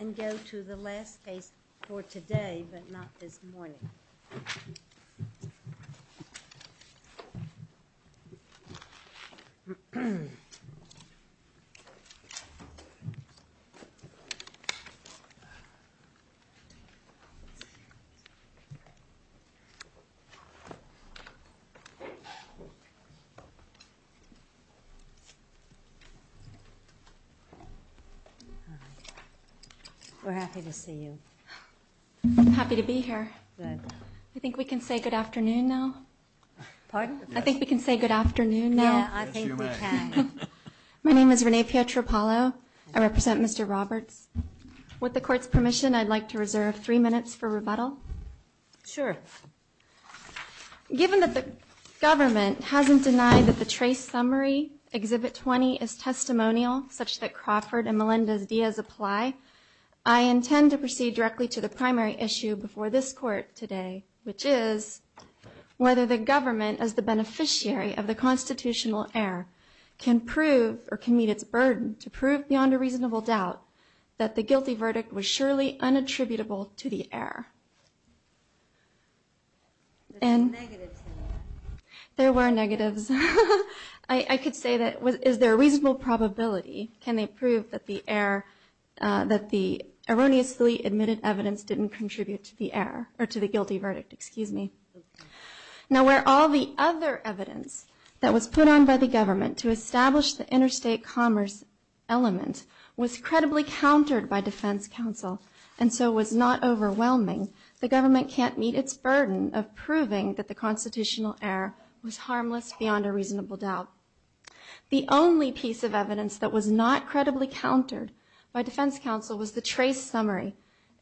and go to the last case for today but not this morning. We're happy to see you. I'm happy to be here.I think we can say good afternoon now. Pardon?I think we can say good afternoon now. Yeah, I think we can.My name is Renee Pietropalo.I represent Mr. Roberts.With the court's permission, I'd like to reserve three minutes for rebuttal. Sure. Given that the government hasn't denied that the trace summary, Exhibit 20, is testimonial such that Crawford and Melendez-Diaz apply, I intend to proceed directly to the primary issue before this court today, which is whether the government, as the beneficiary of the constitutional error, can prove or can meet its burden to prove beyond a reasonable doubt that the guilty verdict was surely unattributable to the error. There's negatives in there. There were negatives.I could say that is there a reasonable probability, can they prove that the error, that the erroneously admitted evidence didn't contribute to the error or to the guilty verdict? Excuse me. Now, where all the other evidence that was put on by the government to establish the interstate commerce element was credibly countered by defense counsel and so was not overwhelming, the government can't meet its burden of proving that the constitutional error was harmless beyond a reasonable doubt. The only piece of evidence that was not credibly countered by defense counsel was the trace summary,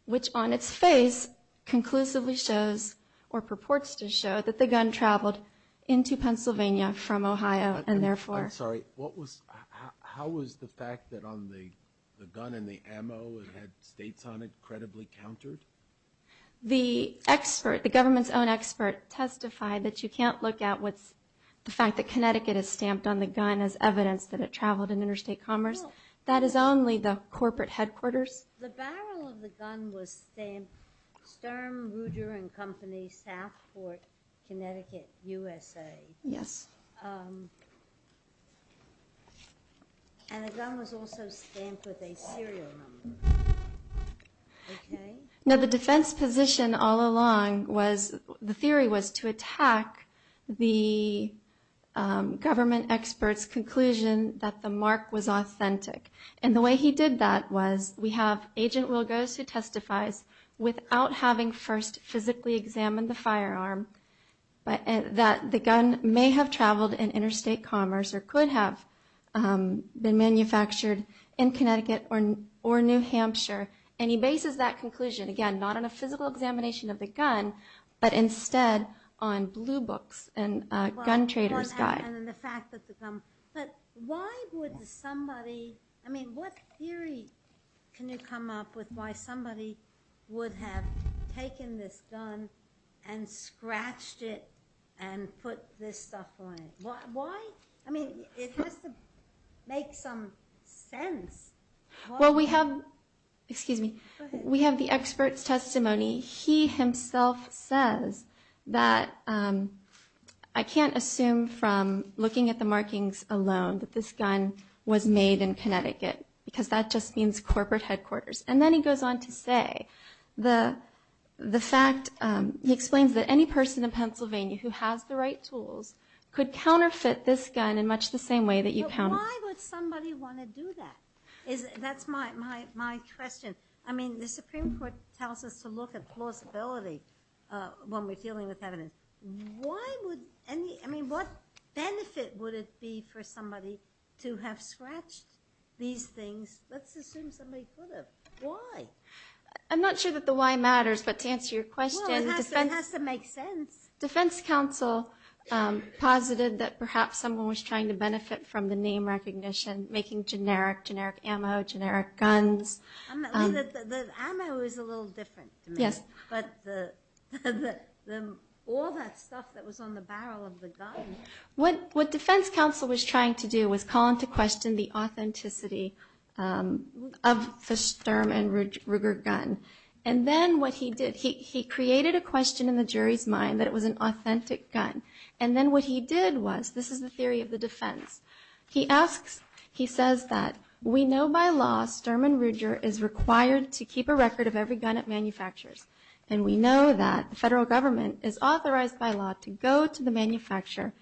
which on its face conclusively shows or purports to show that the gun traveled into Pennsylvania from Ohio and therefore...I'm sorry. What was, how was the fact that on the gun and the ammo it had states on it credibly countered? The expert, the government's own expert testified that you can't look at what's, the fact that Connecticut is stamped on the gun as evidence that it traveled in interstate commerce. That is only the corporate headquarters. The barrel of the gun was stamped Sturm, Ruger and Company, Southport, Connecticut, USA.Yes. And the gun was also stamped with a serial number. Now the defense position all along was, the theory was to attack the government expert's conclusion that the mark was authentic. And the way he did that was we have Agent Wilgos who testifies without having first physically examined the firearm, that the gun may have traveled in interstate commerce or could have been manufactured in Connecticut or New Hampshire. And he bases that conclusion, again, not on a physical examination of the gun, but instead on blue books and a gun trader's guide. And then the fact that the gun, but why would somebody, I mean, what theory can you come up with why somebody would have taken this gun and scratched it and put this stuff on it? Why? I mean, it has to make some sense. Well, we have, excuse me, we have the expert's testimony. He himself says that I can't assume from looking at the markings alone that this gun was made in Connecticut because that just means corporate headquarters. And then he goes on to say the fact, he explains that any person in Pennsylvania who has the right tools could counterfeit this gun in much the same way that you counterfeit this gun. Why would somebody want to do that? That's my question. I mean, the Supreme Court tells us to look at plausibility when we're dealing with evidence. Why would any, I mean, what benefit would it be for somebody to have scratched these things? Let's assume somebody could have. Why? I'm not sure that the why matters, but to answer your question. It has to make sense. Defense counsel posited that perhaps someone was trying to benefit from the name recognition, making generic, generic ammo, generic guns. The ammo is a little different to me, but all that stuff that was on the barrel of the gun. What defense counsel was trying to do was call into question the authenticity of the Sturm and Ruger gun. And then what he did, he created a question in the jury's mind that it was an authentic gun. And then what he did was, this is the theory of the defense. He asks, he says that we know by law Sturm and Ruger is required to keep a record of every gun it manufactures. And we know that the federal government is authorized by law to go to the manufacturer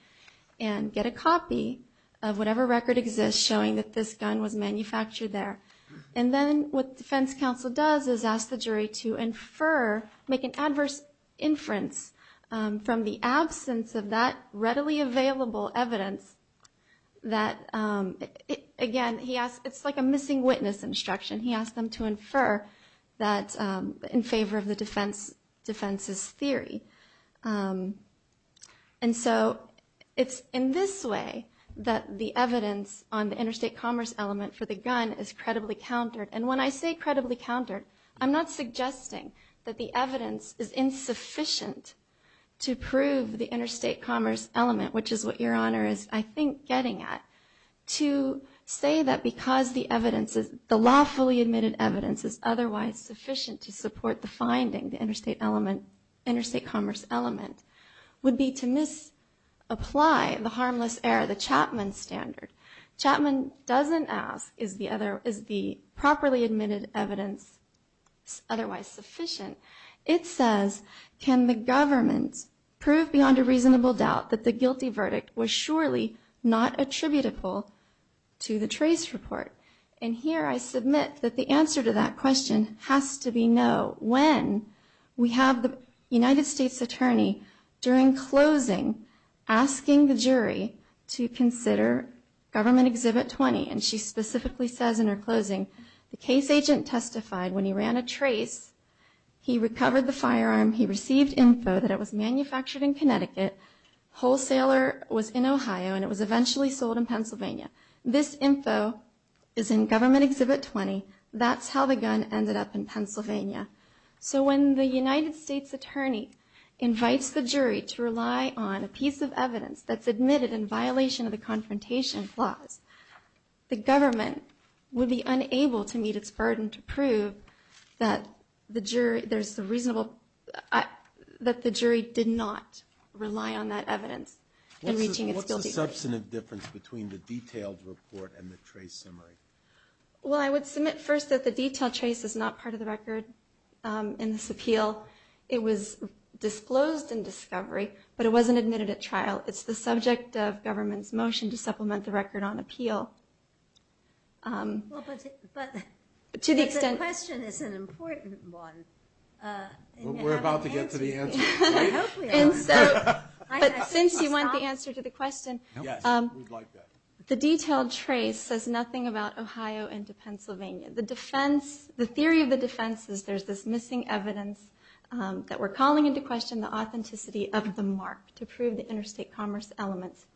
and get a copy of whatever record exists showing that this gun was manufactured there. And then what defense counsel does is ask the jury to infer, make an adverse inference from the absence of that readily available evidence that, again, it's like a missing witness instruction. He asked them to infer that in favor of the defense's theory. And so it's in this way that the evidence on the interstate commerce element for the gun is credible. And when I say credibly countered, I'm not suggesting that the evidence is insufficient to prove the interstate commerce element, which is what your Honor is, I think, getting at. To say that because the evidence is, the lawfully admitted evidence is otherwise sufficient to support the finding, the interstate element, interstate commerce element, would be to misapply the harmless error, the Chapman standard. Chapman doesn't ask is the properly admitted evidence otherwise sufficient. It says, can the government prove beyond a reasonable doubt that the guilty verdict was surely not attributable to the trace report? And here I submit that the answer to that question has to be no. When we have the United States attorney during closing asking the jury to consider Government Exhibit 20, and she specifically says in her closing, the case agent testified when he ran a trace, he recovered the firearm, he received info that it was manufactured in Connecticut, wholesaler was in Ohio, and it was eventually sold in Pennsylvania. This info is in Government Exhibit 20. So when the United States attorney invites the jury to rely on a piece of evidence that's admitted in violation of the confrontation clause, the government would be unable to meet its burden to prove that the jury did not rely on that evidence in reaching its guilty verdict. What's the substantive difference between the detailed report and the trace summary? Well, I would submit first that the detailed trace is not part of the record in this appeal. It was disclosed in discovery, but it wasn't admitted at trial. It's the subject of government's motion to supplement the record on appeal. But the question is an important one. We're about to get to the answer. But since you want the answer to the question, the detailed trace says nothing about Ohio into Pennsylvania. The theory of the defense is there's this missing evidence that we're calling into question the authenticity of the mark to prove the interstate commerce elements.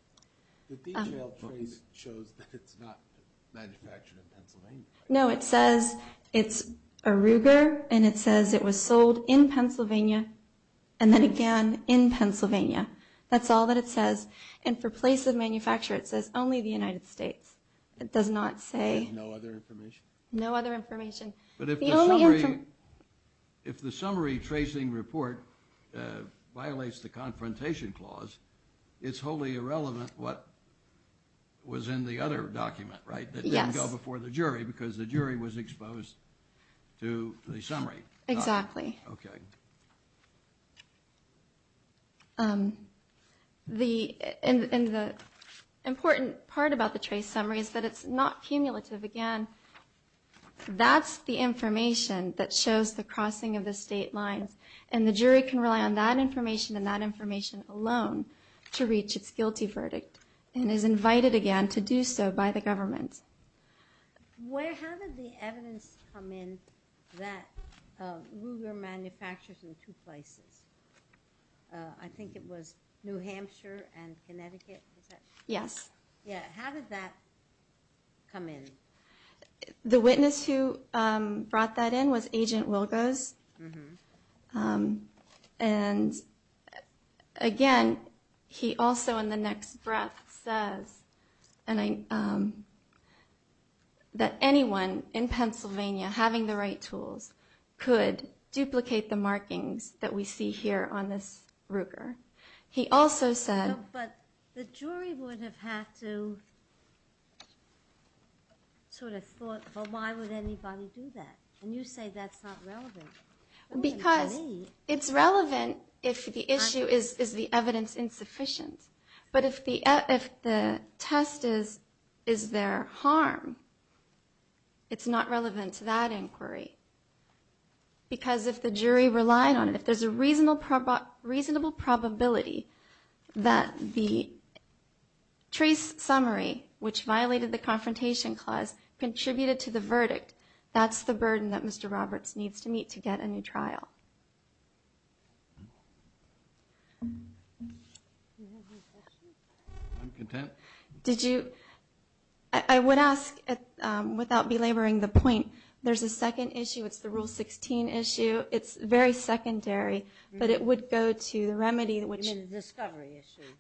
The detailed trace shows that it's not manufactured in Pennsylvania. No, it says it's a Ruger, and it says it was sold in Pennsylvania. And then again, in Pennsylvania. That's all that it says. And for place of manufacture, it says only the United States. It does not say... No other information. But if the summary tracing report violates the confrontation clause, it's wholly irrelevant what was in the other document, right? That didn't go before the jury because the jury was exposed to the summary. Exactly. And the important part about the trace summary is that it's not cumulative. Again, that's the information that shows the crossing of the state lines. And the jury can rely on that information and that information alone to reach its guilty verdict. And is invited again to do so by the government. How did the evidence come in that Ruger manufactures in two places? I think it was New Hampshire and Connecticut. Yes. How did that come in? The witness who brought that in was Agent Wilkos. And again, he also in the next breath says that anyone in Pennsylvania having the right tools could duplicate the markings that we see here on this Ruger. But the jury would have had to sort of thought, well, why would anybody do that? And you say that's not relevant. Because it's relevant if the issue is the evidence insufficient. But if the test is their harm, it's not relevant to that inquiry. Because if the jury relied on it, if there's a reasonable probability that the trace summary, which violated the confrontation clause, contributed to the verdict, that's the burden that Mr. Roberts needs to meet to get a new trial. I'm content. I would ask, without belaboring the point, there's a second issue. It's the Rule 16 issue. It's very secondary, but it would go to the remedy. The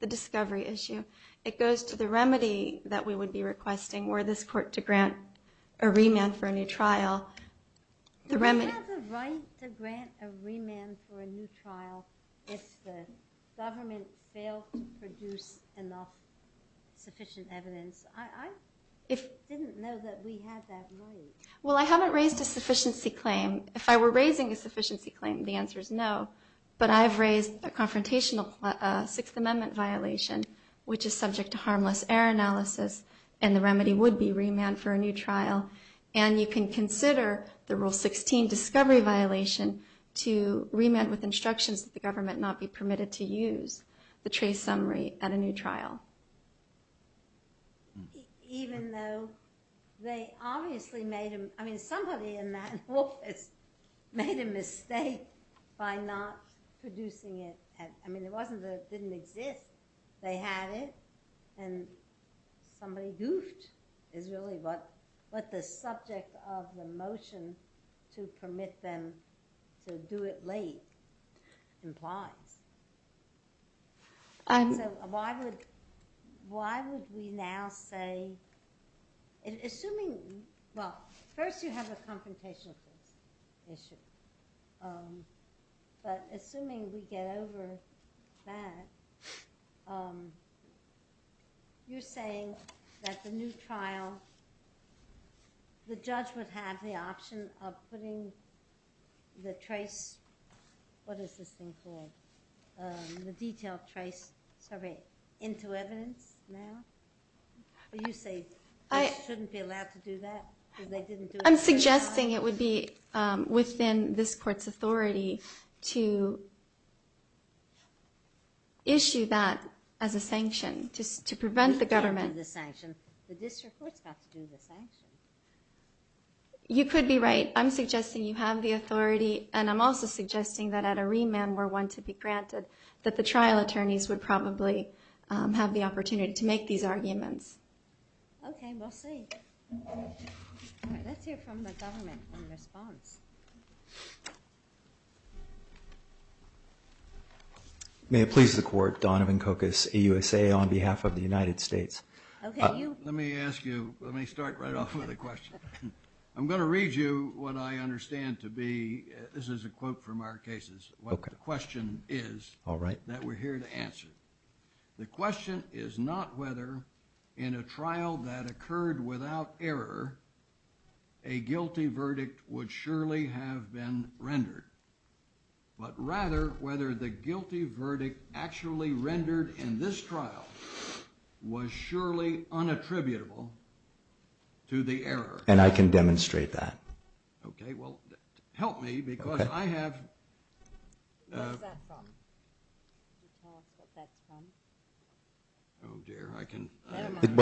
discovery issue. It goes to the remedy that we would be requesting were this court to grant a remand for a new trial. I didn't know that we had that right. Well, I haven't raised a sufficiency claim. If I were raising a sufficiency claim, the answer is no, but I've raised a confrontational Sixth Amendment violation, which is subject to harmless error analysis, and the remedy would be remand for a new trial. And you can consider the Rule 16 discovery violation to remand with instructions that the government not be permitted to use the trace summary at a new trial. Even though they obviously made, I mean, somebody in that office made a mistake by not producing it. I mean, it wasn't that it didn't exist. They had it, and somebody goofed is really what the subject of the motion to permit them to do it late implies. So why would we now say, assuming, well, first you have a confrontational issue, but assuming we get over that, you're saying that the new trial, the judge would have the option of putting the trace, what is this thing called? The detail trace, sorry, into evidence now? You say they shouldn't be allowed to do that? I'm suggesting it would be within this court's authority to issue that as a sanction, just to prevent the government. You can't do the sanction. The district court's got to do the sanction. You could be right. I'm suggesting you have the authority, and I'm also suggesting that at a remand were one to be granted, that the trial attorneys would probably have the opportunity to make these arguments. Okay, we'll see. Let's hear from the government in response. I'm going to read you what I understand to be, this is a quote from our cases, what the question is that we're here to answer. The question is not whether in a trial that occurred without error, a guilty verdict would surely have been rendered, but rather whether the guilty verdict actually rendered in this trial was surely unattributable to the error. And I can demonstrate that. Okay, well, help me because I have... What's that from?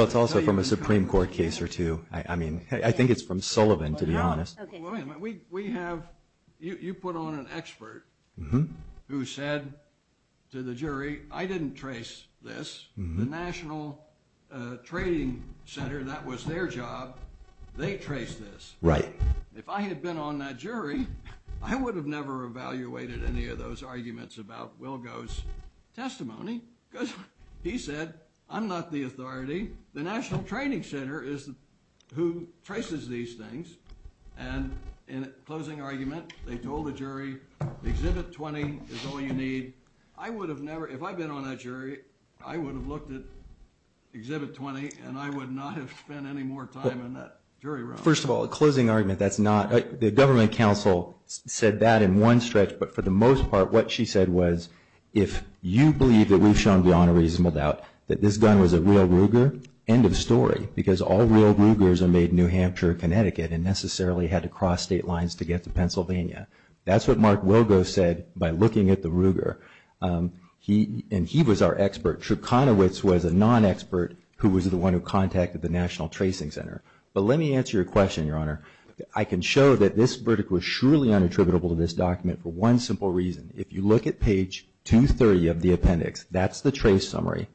It's also from a Supreme Court case or two. I mean, I think it's from Sullivan, to be honest. You put on an expert who said to the jury, I didn't trace this. The National Trading Center, that was their job. They traced this. If I had been on that jury, I would have never evaluated any of those arguments about Wilgo's testimony. He said, I'm not the authority. The National Trading Center is who traces these things. And in a closing argument, they told the jury, Exhibit 20 is all you need. I would have never, if I'd been on that jury, I would have looked at Exhibit 20 and I would not have spent any more time in that jury room. First of all, a closing argument, that's not... The government counsel said that in one stretch, but for the most part, what she said was, if you believe that we've shown beyond a reasonable doubt that this gun was a real Ruger, end of story. Because all real Rugers are made in New Hampshire or Connecticut and necessarily had to cross state lines to get to Pennsylvania. That's what Mark Wilgo said by looking at the Ruger. And he was our expert. But let me answer your question, Your Honor. I can show that this verdict was surely unattributable to this document for one simple reason. If you look at page 230 of the appendix, that's the trace summary.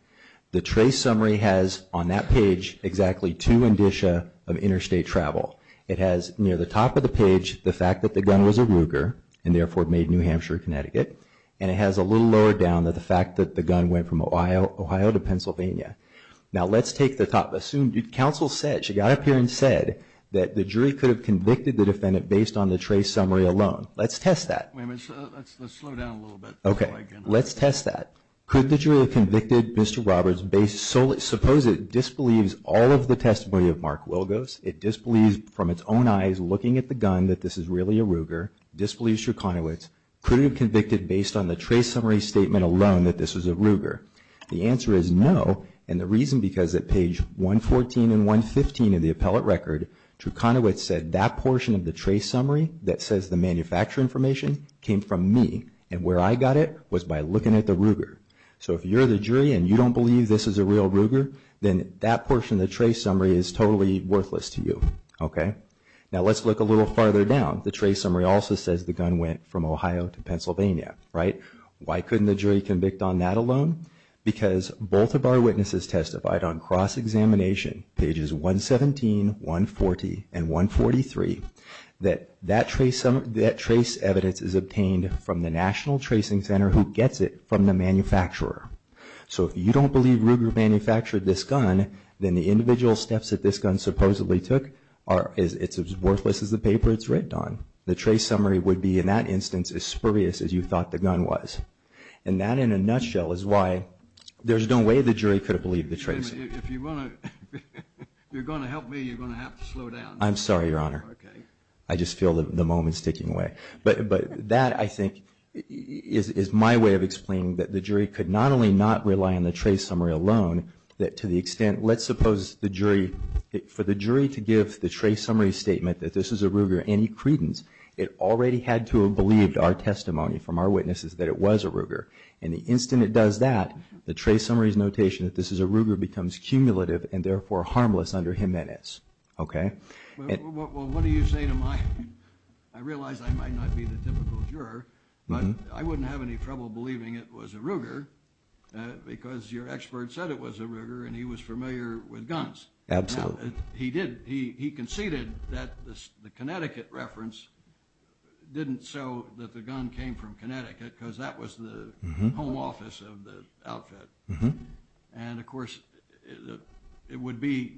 The trace summary has on that page exactly two indicia of interstate travel. It has near the top of the page, the fact that the gun was a Ruger and therefore made in New Hampshire or Connecticut. And it has a little lower down that the fact that the gun went from Ohio to Pennsylvania. Now let's take the top, assume counsel said, she got up here and said, that the jury could have convicted the defendant based on the trace summary alone. Let's test that. Wait a minute, let's slow down a little bit. Okay, let's test that. Could the jury have convicted Mr. Roberts based solely, suppose it disbelieves all of the testimony of Mark Wilgos. It disbelieves from its own eyes looking at the gun that this is really a Ruger. Disbelieves Truconowitz. Could have convicted based on the trace summary statement alone that this was a Ruger. The answer is no, and the reason because at page 114 and 115 of the appellate record, Truconowitz said that portion of the trace summary that says the manufacturer information came from me. And where I got it was by looking at the Ruger. So if you're the jury and you don't believe this is a real Ruger, then that portion of the trace summary is totally worthless to you. Okay, now let's look a little farther down. The trace summary also says the gun went from Ohio to Pennsylvania, right? Why couldn't the jury convict on that alone? Because both of our witnesses testified on cross-examination pages 117, 140, and 143 that that trace evidence is obtained from the National Tracing Center who gets it from the manufacturer. So if you don't believe Ruger manufactured this gun, then the individual steps that this gun supposedly took are as worthless as the paper it's written on. The trace summary would be in that instance as spurious as you thought the gun was. And that in a nutshell is why there's no way the jury could have believed the trace. If you're going to help me, you're going to have to slow down. I'm sorry, Your Honor. I just feel the moment's ticking away. But that, I think, is my way of explaining that the jury could not only not rely on the trace summary alone, that to the extent, let's suppose the jury, for the jury to give the trace summary statement that this is a Ruger any credence, it already had to have believed our testimony from our witnesses that it was a Ruger. And the instant it does that, the trace summary's notation that this is a Ruger becomes cumulative and therefore harmless under Jimenez. Well, what do you say to my, I realize I might not be the typical juror, but I wouldn't have any trouble believing it was a Ruger because your expert said it was a Ruger and he was familiar with guns. Absolutely. He conceded that the Connecticut reference didn't show that the gun came from Connecticut because that was the home office of the outfit. And of course, it would be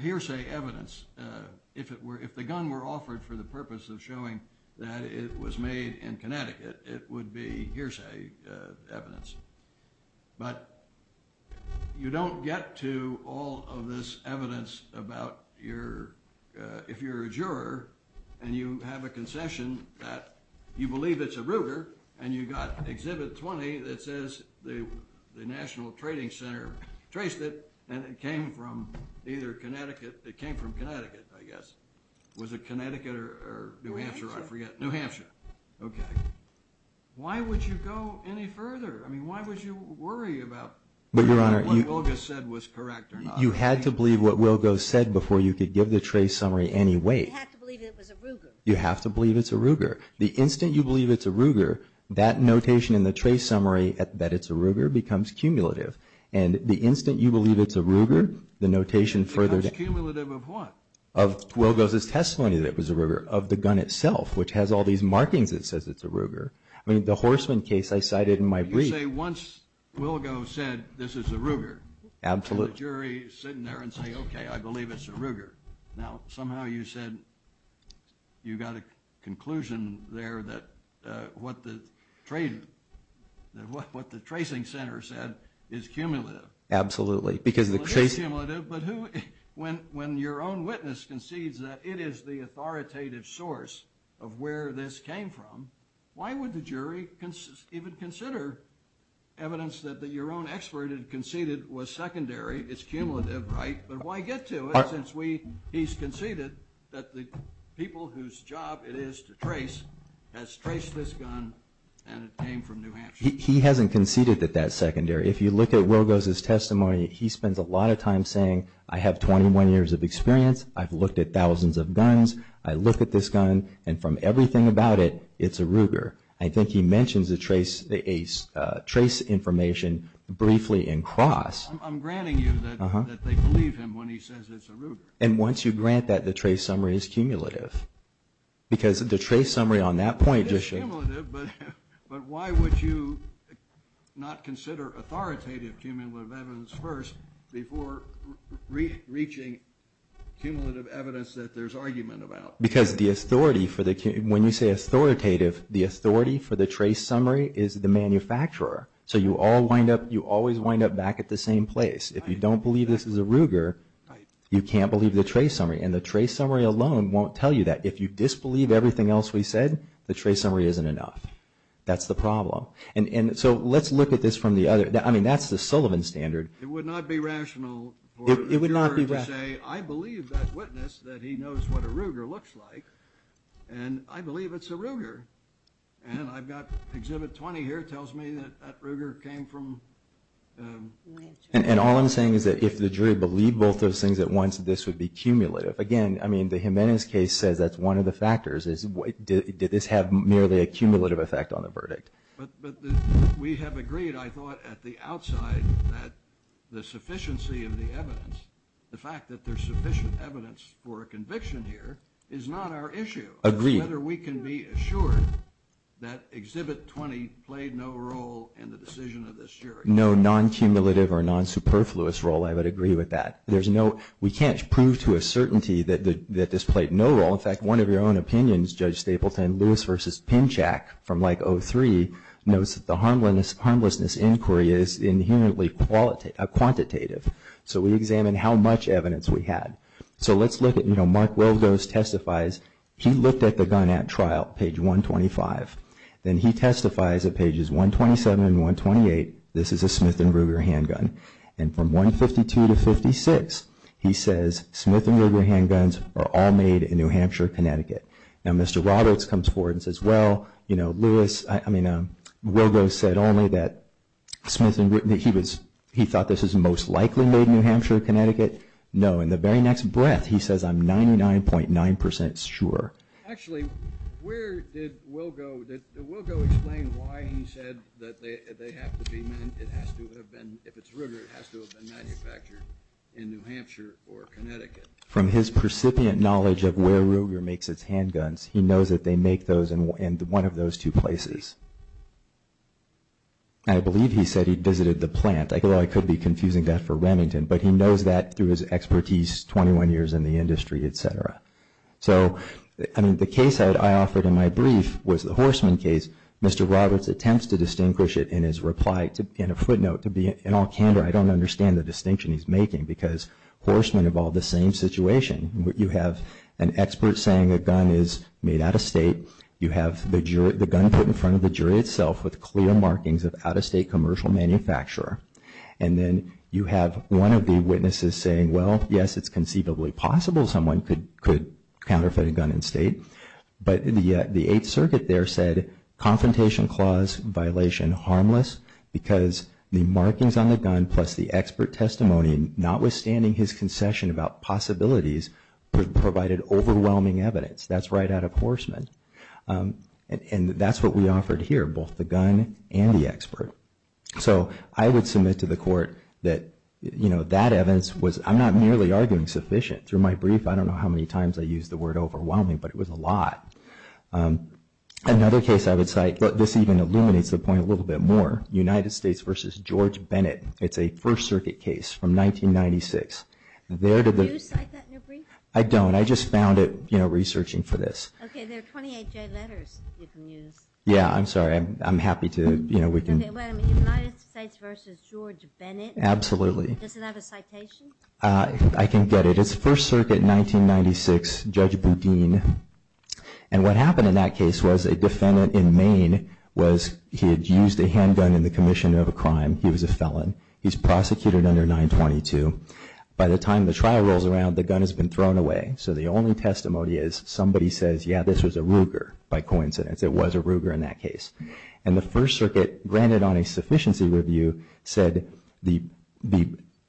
hearsay evidence, if the gun were offered for the purpose of showing that it was made in Connecticut, it would be hearsay evidence. But you don't get to all of this evidence about your, if you're a juror and you have a concession that you believe it's a Ruger and you got Exhibit 20 that says the National Trading Center traced it and it came from either Connecticut, it came from Connecticut, I guess. Was it Connecticut or New Hampshire? New Hampshire. Why would you go any further? I mean, why would you worry about what Wilgos said was correct or not? You had to believe what Wilgos said before you could give the trace summary any weight. You have to believe it was a Ruger. I mean, the Horstman case I cited in my brief. You say once Wilgos said this is a Ruger. Absolutely. And the jury is sitting there and saying, okay, I believe it's a Ruger. Now, somehow you said you got a conclusion there that what the tracing center said is cumulative. Absolutely. When your own witness concedes that it is the authoritative source of where this came from, why would the jury even consider evidence that your own expert had conceded was secondary? It's cumulative, right? But why get to it since he's conceded that the people whose job it is to trace has traced this gun and it came from New Hampshire? He hasn't conceded that that's secondary. If you look at Wilgos' testimony, he spends a lot of time saying, I have 21 years of experience. I've looked at thousands of guns. I look at this gun, and from everything about it, it's a Ruger. I think he mentions the trace information briefly in cross. I'm granting you that they believe him when he says it's a Ruger. And once you grant that, the trace summary is cumulative. Because the trace summary on that point just showed you. But why would you not consider authoritative cumulative evidence first before reaching cumulative evidence that there's argument about? Because when you say authoritative, the authority for the trace summary is the manufacturer. So you always wind up back at the same place. If you don't believe this is a Ruger, you can't believe the trace summary. And the trace summary alone won't tell you that. If you disbelieve everything else we said, the trace summary isn't enough. That's the problem. And so let's look at this from the other. I mean, that's the Sullivan standard. It would not be rational for a juror to say, I believe that witness that he knows what a Ruger looks like. And I believe it's a Ruger. And I've got Exhibit 20 here. It tells me that that Ruger came from ____. And all I'm saying is that if the jury believed both those things at once, this would be cumulative. Again, I mean, the Jimenez case says that's one of the factors. Did this have merely a cumulative effect on the verdict? But we have agreed, I thought, at the outside that the sufficiency of the evidence, the fact that there's sufficient evidence for a conviction here is not our issue. Agreed. Whether we can be assured that Exhibit 20 played no role in the decision of this jury. No non-cumulative or non-superfluous role. I would agree with that. There's no, we can't prove to a certainty that this played no role. In fact, one of your own opinions, Judge Stapleton, Lewis v. Pinchak, from like 03, notes that the harmlessness inquiry is inherently quantitative. So we examine how much evidence we had. So let's look at, you know, Mark Weldose testifies. He looked at the gun at trial, page 125. Then he testifies at pages 127 and 128. This is a Smith and Ruger handgun. And from 152 to 56, he says, Smith and Ruger handguns are all made in New Hampshire, Connecticut. Now, Mr. Roberts comes forward and says, well, you know, Lewis, I mean, Weldose said only that he thought this was most likely made in New Hampshire, Connecticut. No, in the very next breath, he says, I'm 99.9% sure. Actually, where did Weldose, did Weldose explain why he said that they have to be meant, it has to have been, if it's Ruger, it has to have been manufactured in New Hampshire or Connecticut. From his precipient knowledge of where Ruger makes its handguns, he knows that they make those in one of those two places. And I believe he said he visited the plant. Although I could be confusing that for Remington. But he knows that through his expertise, 21 years in the industry, et cetera. So, I mean, the case I offered in my brief was the Horseman case. Mr. Roberts attempts to distinguish it in his reply in a footnote. To be in all candor, I don't understand the distinction he's making. Because Horseman involved the same situation. You have an expert saying a gun is made out of state. You have the gun put in front of the jury itself with clear markings of out-of-state commercial manufacturer. And then you have one of the witnesses saying, well, yes, it's conceivably possible someone could counterfeit a gun in state. But the Eighth Circuit there said, confrontation clause violation harmless. Because the markings on the gun plus the expert testimony, notwithstanding his concession about possibilities, provided overwhelming evidence. That's right out of Horseman. And that's what we offered here, both the gun and the expert. So I would submit to the court that, you know, that evidence was, I'm not merely arguing sufficient. Through my brief, I don't know how many times I used the word overwhelming, but it was a lot. Another case I would cite, but this even illuminates the point a little bit more, United States v. George Bennett. It's a First Circuit case from 1996. Did you cite that in your brief? I don't. I just found it, you know, researching for this. Okay, there are 28 J letters you can use. Yeah, I'm sorry. I'm happy to, you know, we can. United States v. George Bennett. Absolutely. Does it have a citation? I can get it. It's First Circuit, 1996, Judge Boudin. And what happened in that case was a defendant in Maine was he had used a handgun in the commission of a crime. He was a felon. He's prosecuted under 922. By the time the trial rolls around, the gun has been thrown away. So the only testimony is somebody says, yeah, this was a Ruger, by coincidence. It was a Ruger in that case. And the First Circuit, granted on a sufficiency review, said the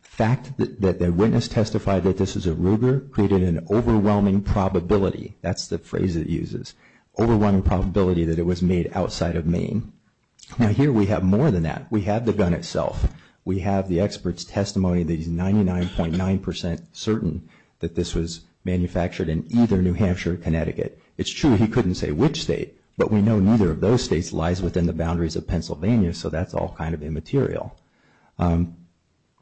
fact that the witness testified that this was a Ruger created an overwhelming probability. That's the phrase it uses. Overwhelming probability that it was made outside of Maine. Now, here we have more than that. We have the gun itself. We have the expert's testimony that he's 99.9% certain that this was manufactured in either New Hampshire or Connecticut. It's true he couldn't say which state, but we know neither of those states lies within the boundaries of Pennsylvania. So that's all kind of immaterial.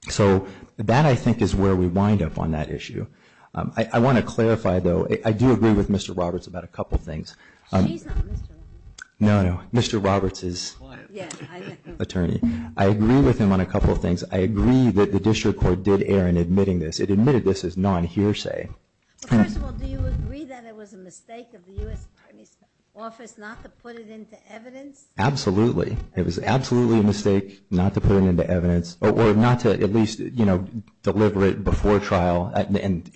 So that, I think, is where we wind up on that issue. I want to clarify, though. I do agree with Mr. Roberts about a couple things. She's not Mr. Roberts. No, no. Mr. Roberts is attorney. I agree with him on a couple things. I agree that the district court did err in admitting this. It admitted this as non-hearsay. First of all, do you agree that it was a mistake of the U.S. Attorney's Office not to put it into evidence? Absolutely. It was absolutely a mistake not to put it into evidence or not to at least deliver it before trial. And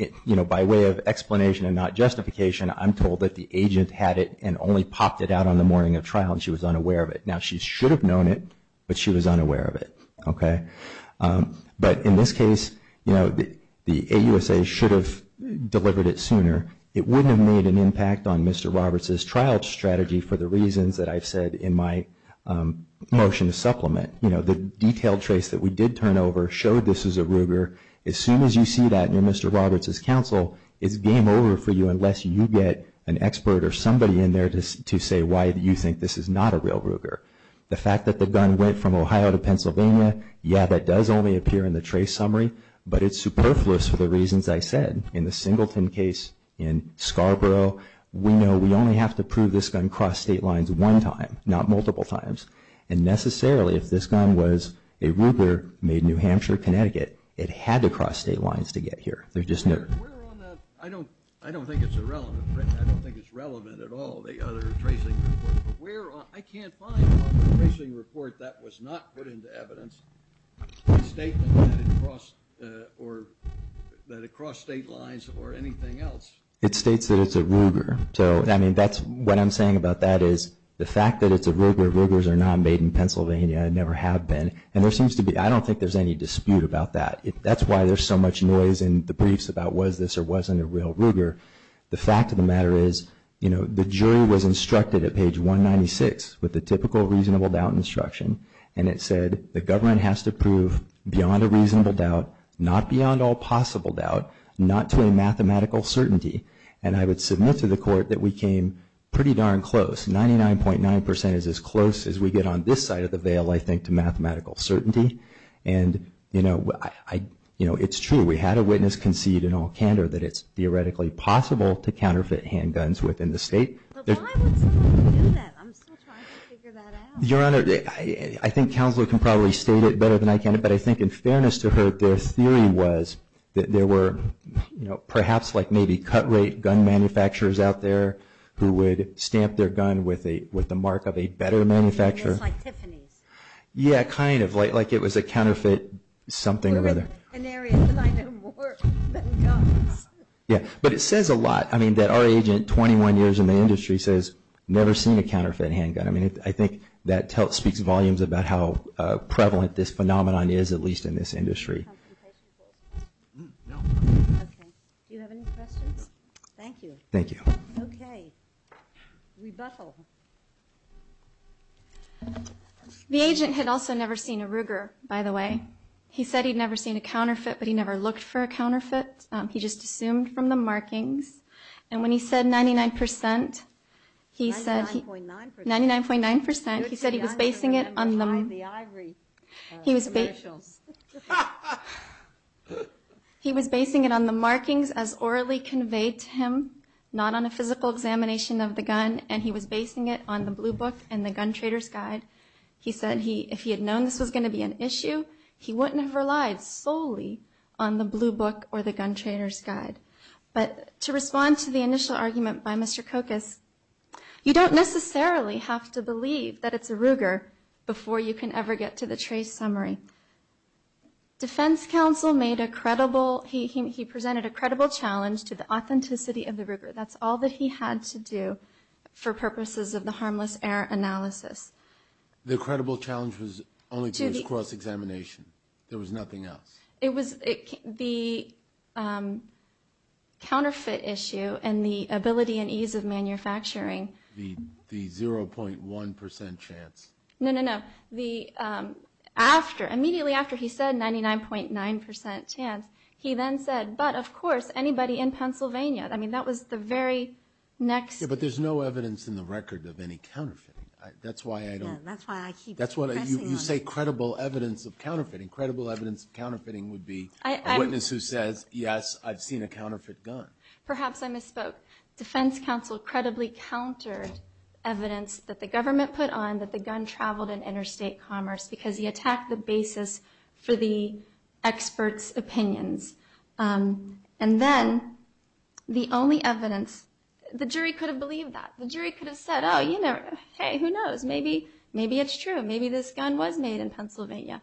by way of explanation and not justification, I'm told that the agent had it and only popped it out on the morning of trial, and she was unaware of it. Now, she should have known it, but she was unaware of it. But in this case, the AUSA should have delivered it sooner. It wouldn't have made an impact on Mr. Roberts' trial strategy for the reasons that I've said in my motion to supplement. The detailed trace that we did turn over showed this was a Ruger. As soon as you see that near Mr. Roberts' counsel, it's game over for you unless you get an expert or somebody in there to say why you think this is not a real Ruger. The fact that the gun went from Ohio to Pennsylvania, yeah, that does only appear in the trace summary, but it's superfluous for the reasons I said in the Singleton case in Scarborough. We know we only have to prove this gun crossed state lines one time, not multiple times. And necessarily, if this gun was a Ruger made in New Hampshire, Connecticut, it had to cross state lines to get here. I don't think it's relevant at all, the other tracing report. I can't find on the tracing report that was not put into evidence a statement that it crossed state lines or anything else. It states that it's a Ruger. What I'm saying about that is the fact that it's a Ruger, Rugers are not made in Pennsylvania and never have been. I don't think there's any dispute about that. That's why there's so much noise in the briefs about was this or wasn't a real Ruger. The fact of the matter is the jury was instructed at page 196 with the typical reasonable doubt instruction, and it said the government has to prove beyond a reasonable doubt, not beyond all possible doubt, not to a mathematical certainty. And I would submit to the court that we came pretty darn close. 99.9% is as close as we get on this side of the veil, I think, to mathematical certainty. And, you know, it's true. We had a witness concede in all candor that it's theoretically possible to counterfeit handguns within the state. But why would someone do that? I'm still trying to figure that out. Your Honor, I think Counselor can probably state it better than I can, but I think in fairness to her, their theory was that there were perhaps like maybe cut rate gun manufacturers out there who would stamp their gun with the mark of a better manufacturer. Like Tiffany's. Yeah, kind of. Like it was a counterfeit something or other. Yeah, but it says a lot. I mean, that our agent, 21 years in the industry, says never seen a counterfeit handgun. I mean, I think that speaks volumes about how prevalent this phenomenon is, at least in this industry. Thank you. Thank you. Okay. Rebuttal. The agent had also never seen a Ruger, by the way. He said he'd never seen a counterfeit, but he never looked for a counterfeit. He just assumed from the markings. And when he said 99 percent, he said he was basing it on the markings as orally conveyed to him, not on a physical examination of the gun, and he was basing it on the blue book and the gun trader's guide. He said if he had known this was going to be an issue, he wouldn't have relied solely on the blue book or the gun trader's guide. But to respond to the initial argument by Mr. Kokas, you don't necessarily have to believe that it's a Ruger before you can ever get to the trace summary. Defense counsel made a credible, he presented a credible challenge to the authenticity of the Ruger. That's all that he had to do for purposes of the harmless error analysis. The credible challenge was only to his cross-examination. There was nothing else. It was the counterfeit issue and the ability and ease of manufacturing. The 0.1 percent chance. No, no, no. Immediately after he said 99.9 percent chance, he then said, but of course, anybody in Pennsylvania. I mean, that was the very next. Yeah, but there's no evidence in the record of any counterfeiting. That's why I don't. Yeah, that's why I keep pressing on. You say credible evidence of counterfeiting. Credible evidence of counterfeiting would be a witness who says, yes, I've seen a counterfeit gun. Perhaps I misspoke. Defense counsel credibly countered evidence that the government put on that the gun traveled in interstate commerce because he attacked the basis for the experts' opinions. And then the only evidence, the jury could have believed that. The jury could have said, oh, hey, who knows? Maybe it's true. Maybe this gun was made in Pennsylvania.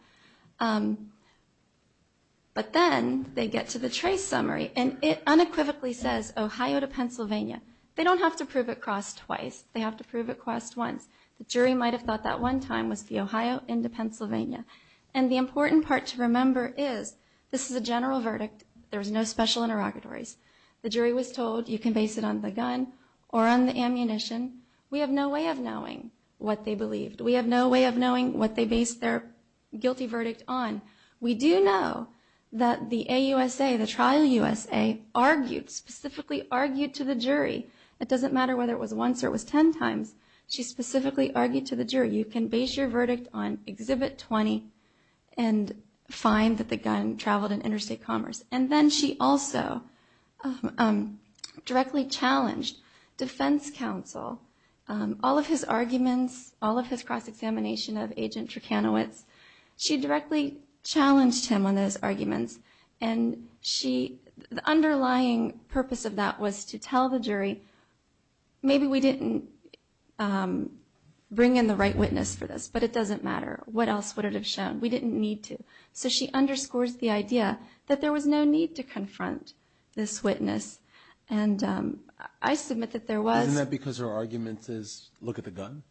But then they get to the trace summary. And it unequivocally says Ohio to Pennsylvania. They don't have to prove it crossed twice. They have to prove it crossed once. The jury might have thought that one time was the Ohio into Pennsylvania. And the important part to remember is this is a general verdict. There's no special interrogatories. The jury was told you can base it on the gun or on the ammunition. We have no way of knowing what they believed. We have no way of knowing what they based their guilty verdict on. We do know that the AUSA, the trial USA, argued, specifically argued to the jury. It doesn't matter whether it was once or it was ten times. She specifically argued to the jury. You can base your verdict on Exhibit 20 and find that the gun traveled in interstate commerce. And then she also directly challenged defense counsel, all of his arguments, all of his cross-examination of Agent Turkanowicz. She directly challenged him on those arguments. And the underlying purpose of that was to tell the jury, maybe we didn't bring in the right witness for this, but it doesn't matter. What else would it have shown? We didn't need to. So she underscores the idea that there was no need to confront this witness. And I submit that there was. Isn't that because her argument is look at the gun?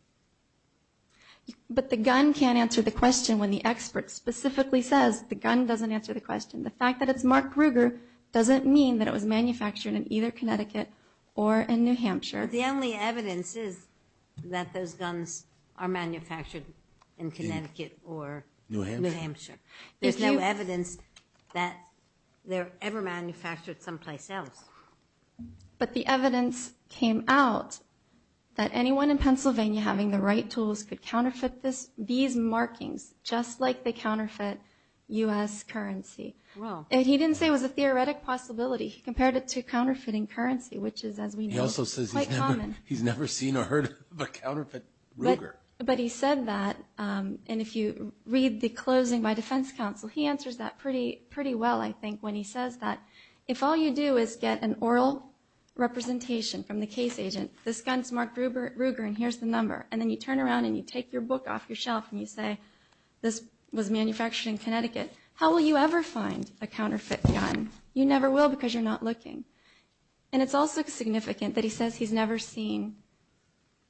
But the gun can't answer the question when the expert specifically says the gun doesn't answer the question. The fact that it's Mark Ruger doesn't mean that it was manufactured in either Connecticut or in New Hampshire. The only evidence is that those guns are manufactured in Connecticut or New Hampshire. There's no evidence that they're ever manufactured someplace else. But the evidence came out that anyone in Pennsylvania having the right tools could counterfeit these markings, just like they counterfeit U.S. currency. And he didn't say it was a theoretic possibility. He compared it to counterfeiting currency, which is, as we know, quite common. He also says he's never seen or heard of a counterfeit Ruger. But he said that, and if you read the closing by defense counsel, he answers that pretty well, I think, when he says that, if all you do is get an oral representation from the case agent, this gun's Mark Ruger and here's the number, and then you turn around and you take your book off your shelf and you say this was manufactured in Connecticut, how will you ever find a counterfeit gun? You never will because you're not looking. And it's also significant that he says he's never seen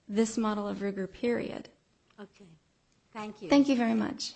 this model of Ruger, period. Okay. Thank you. Thank you very much.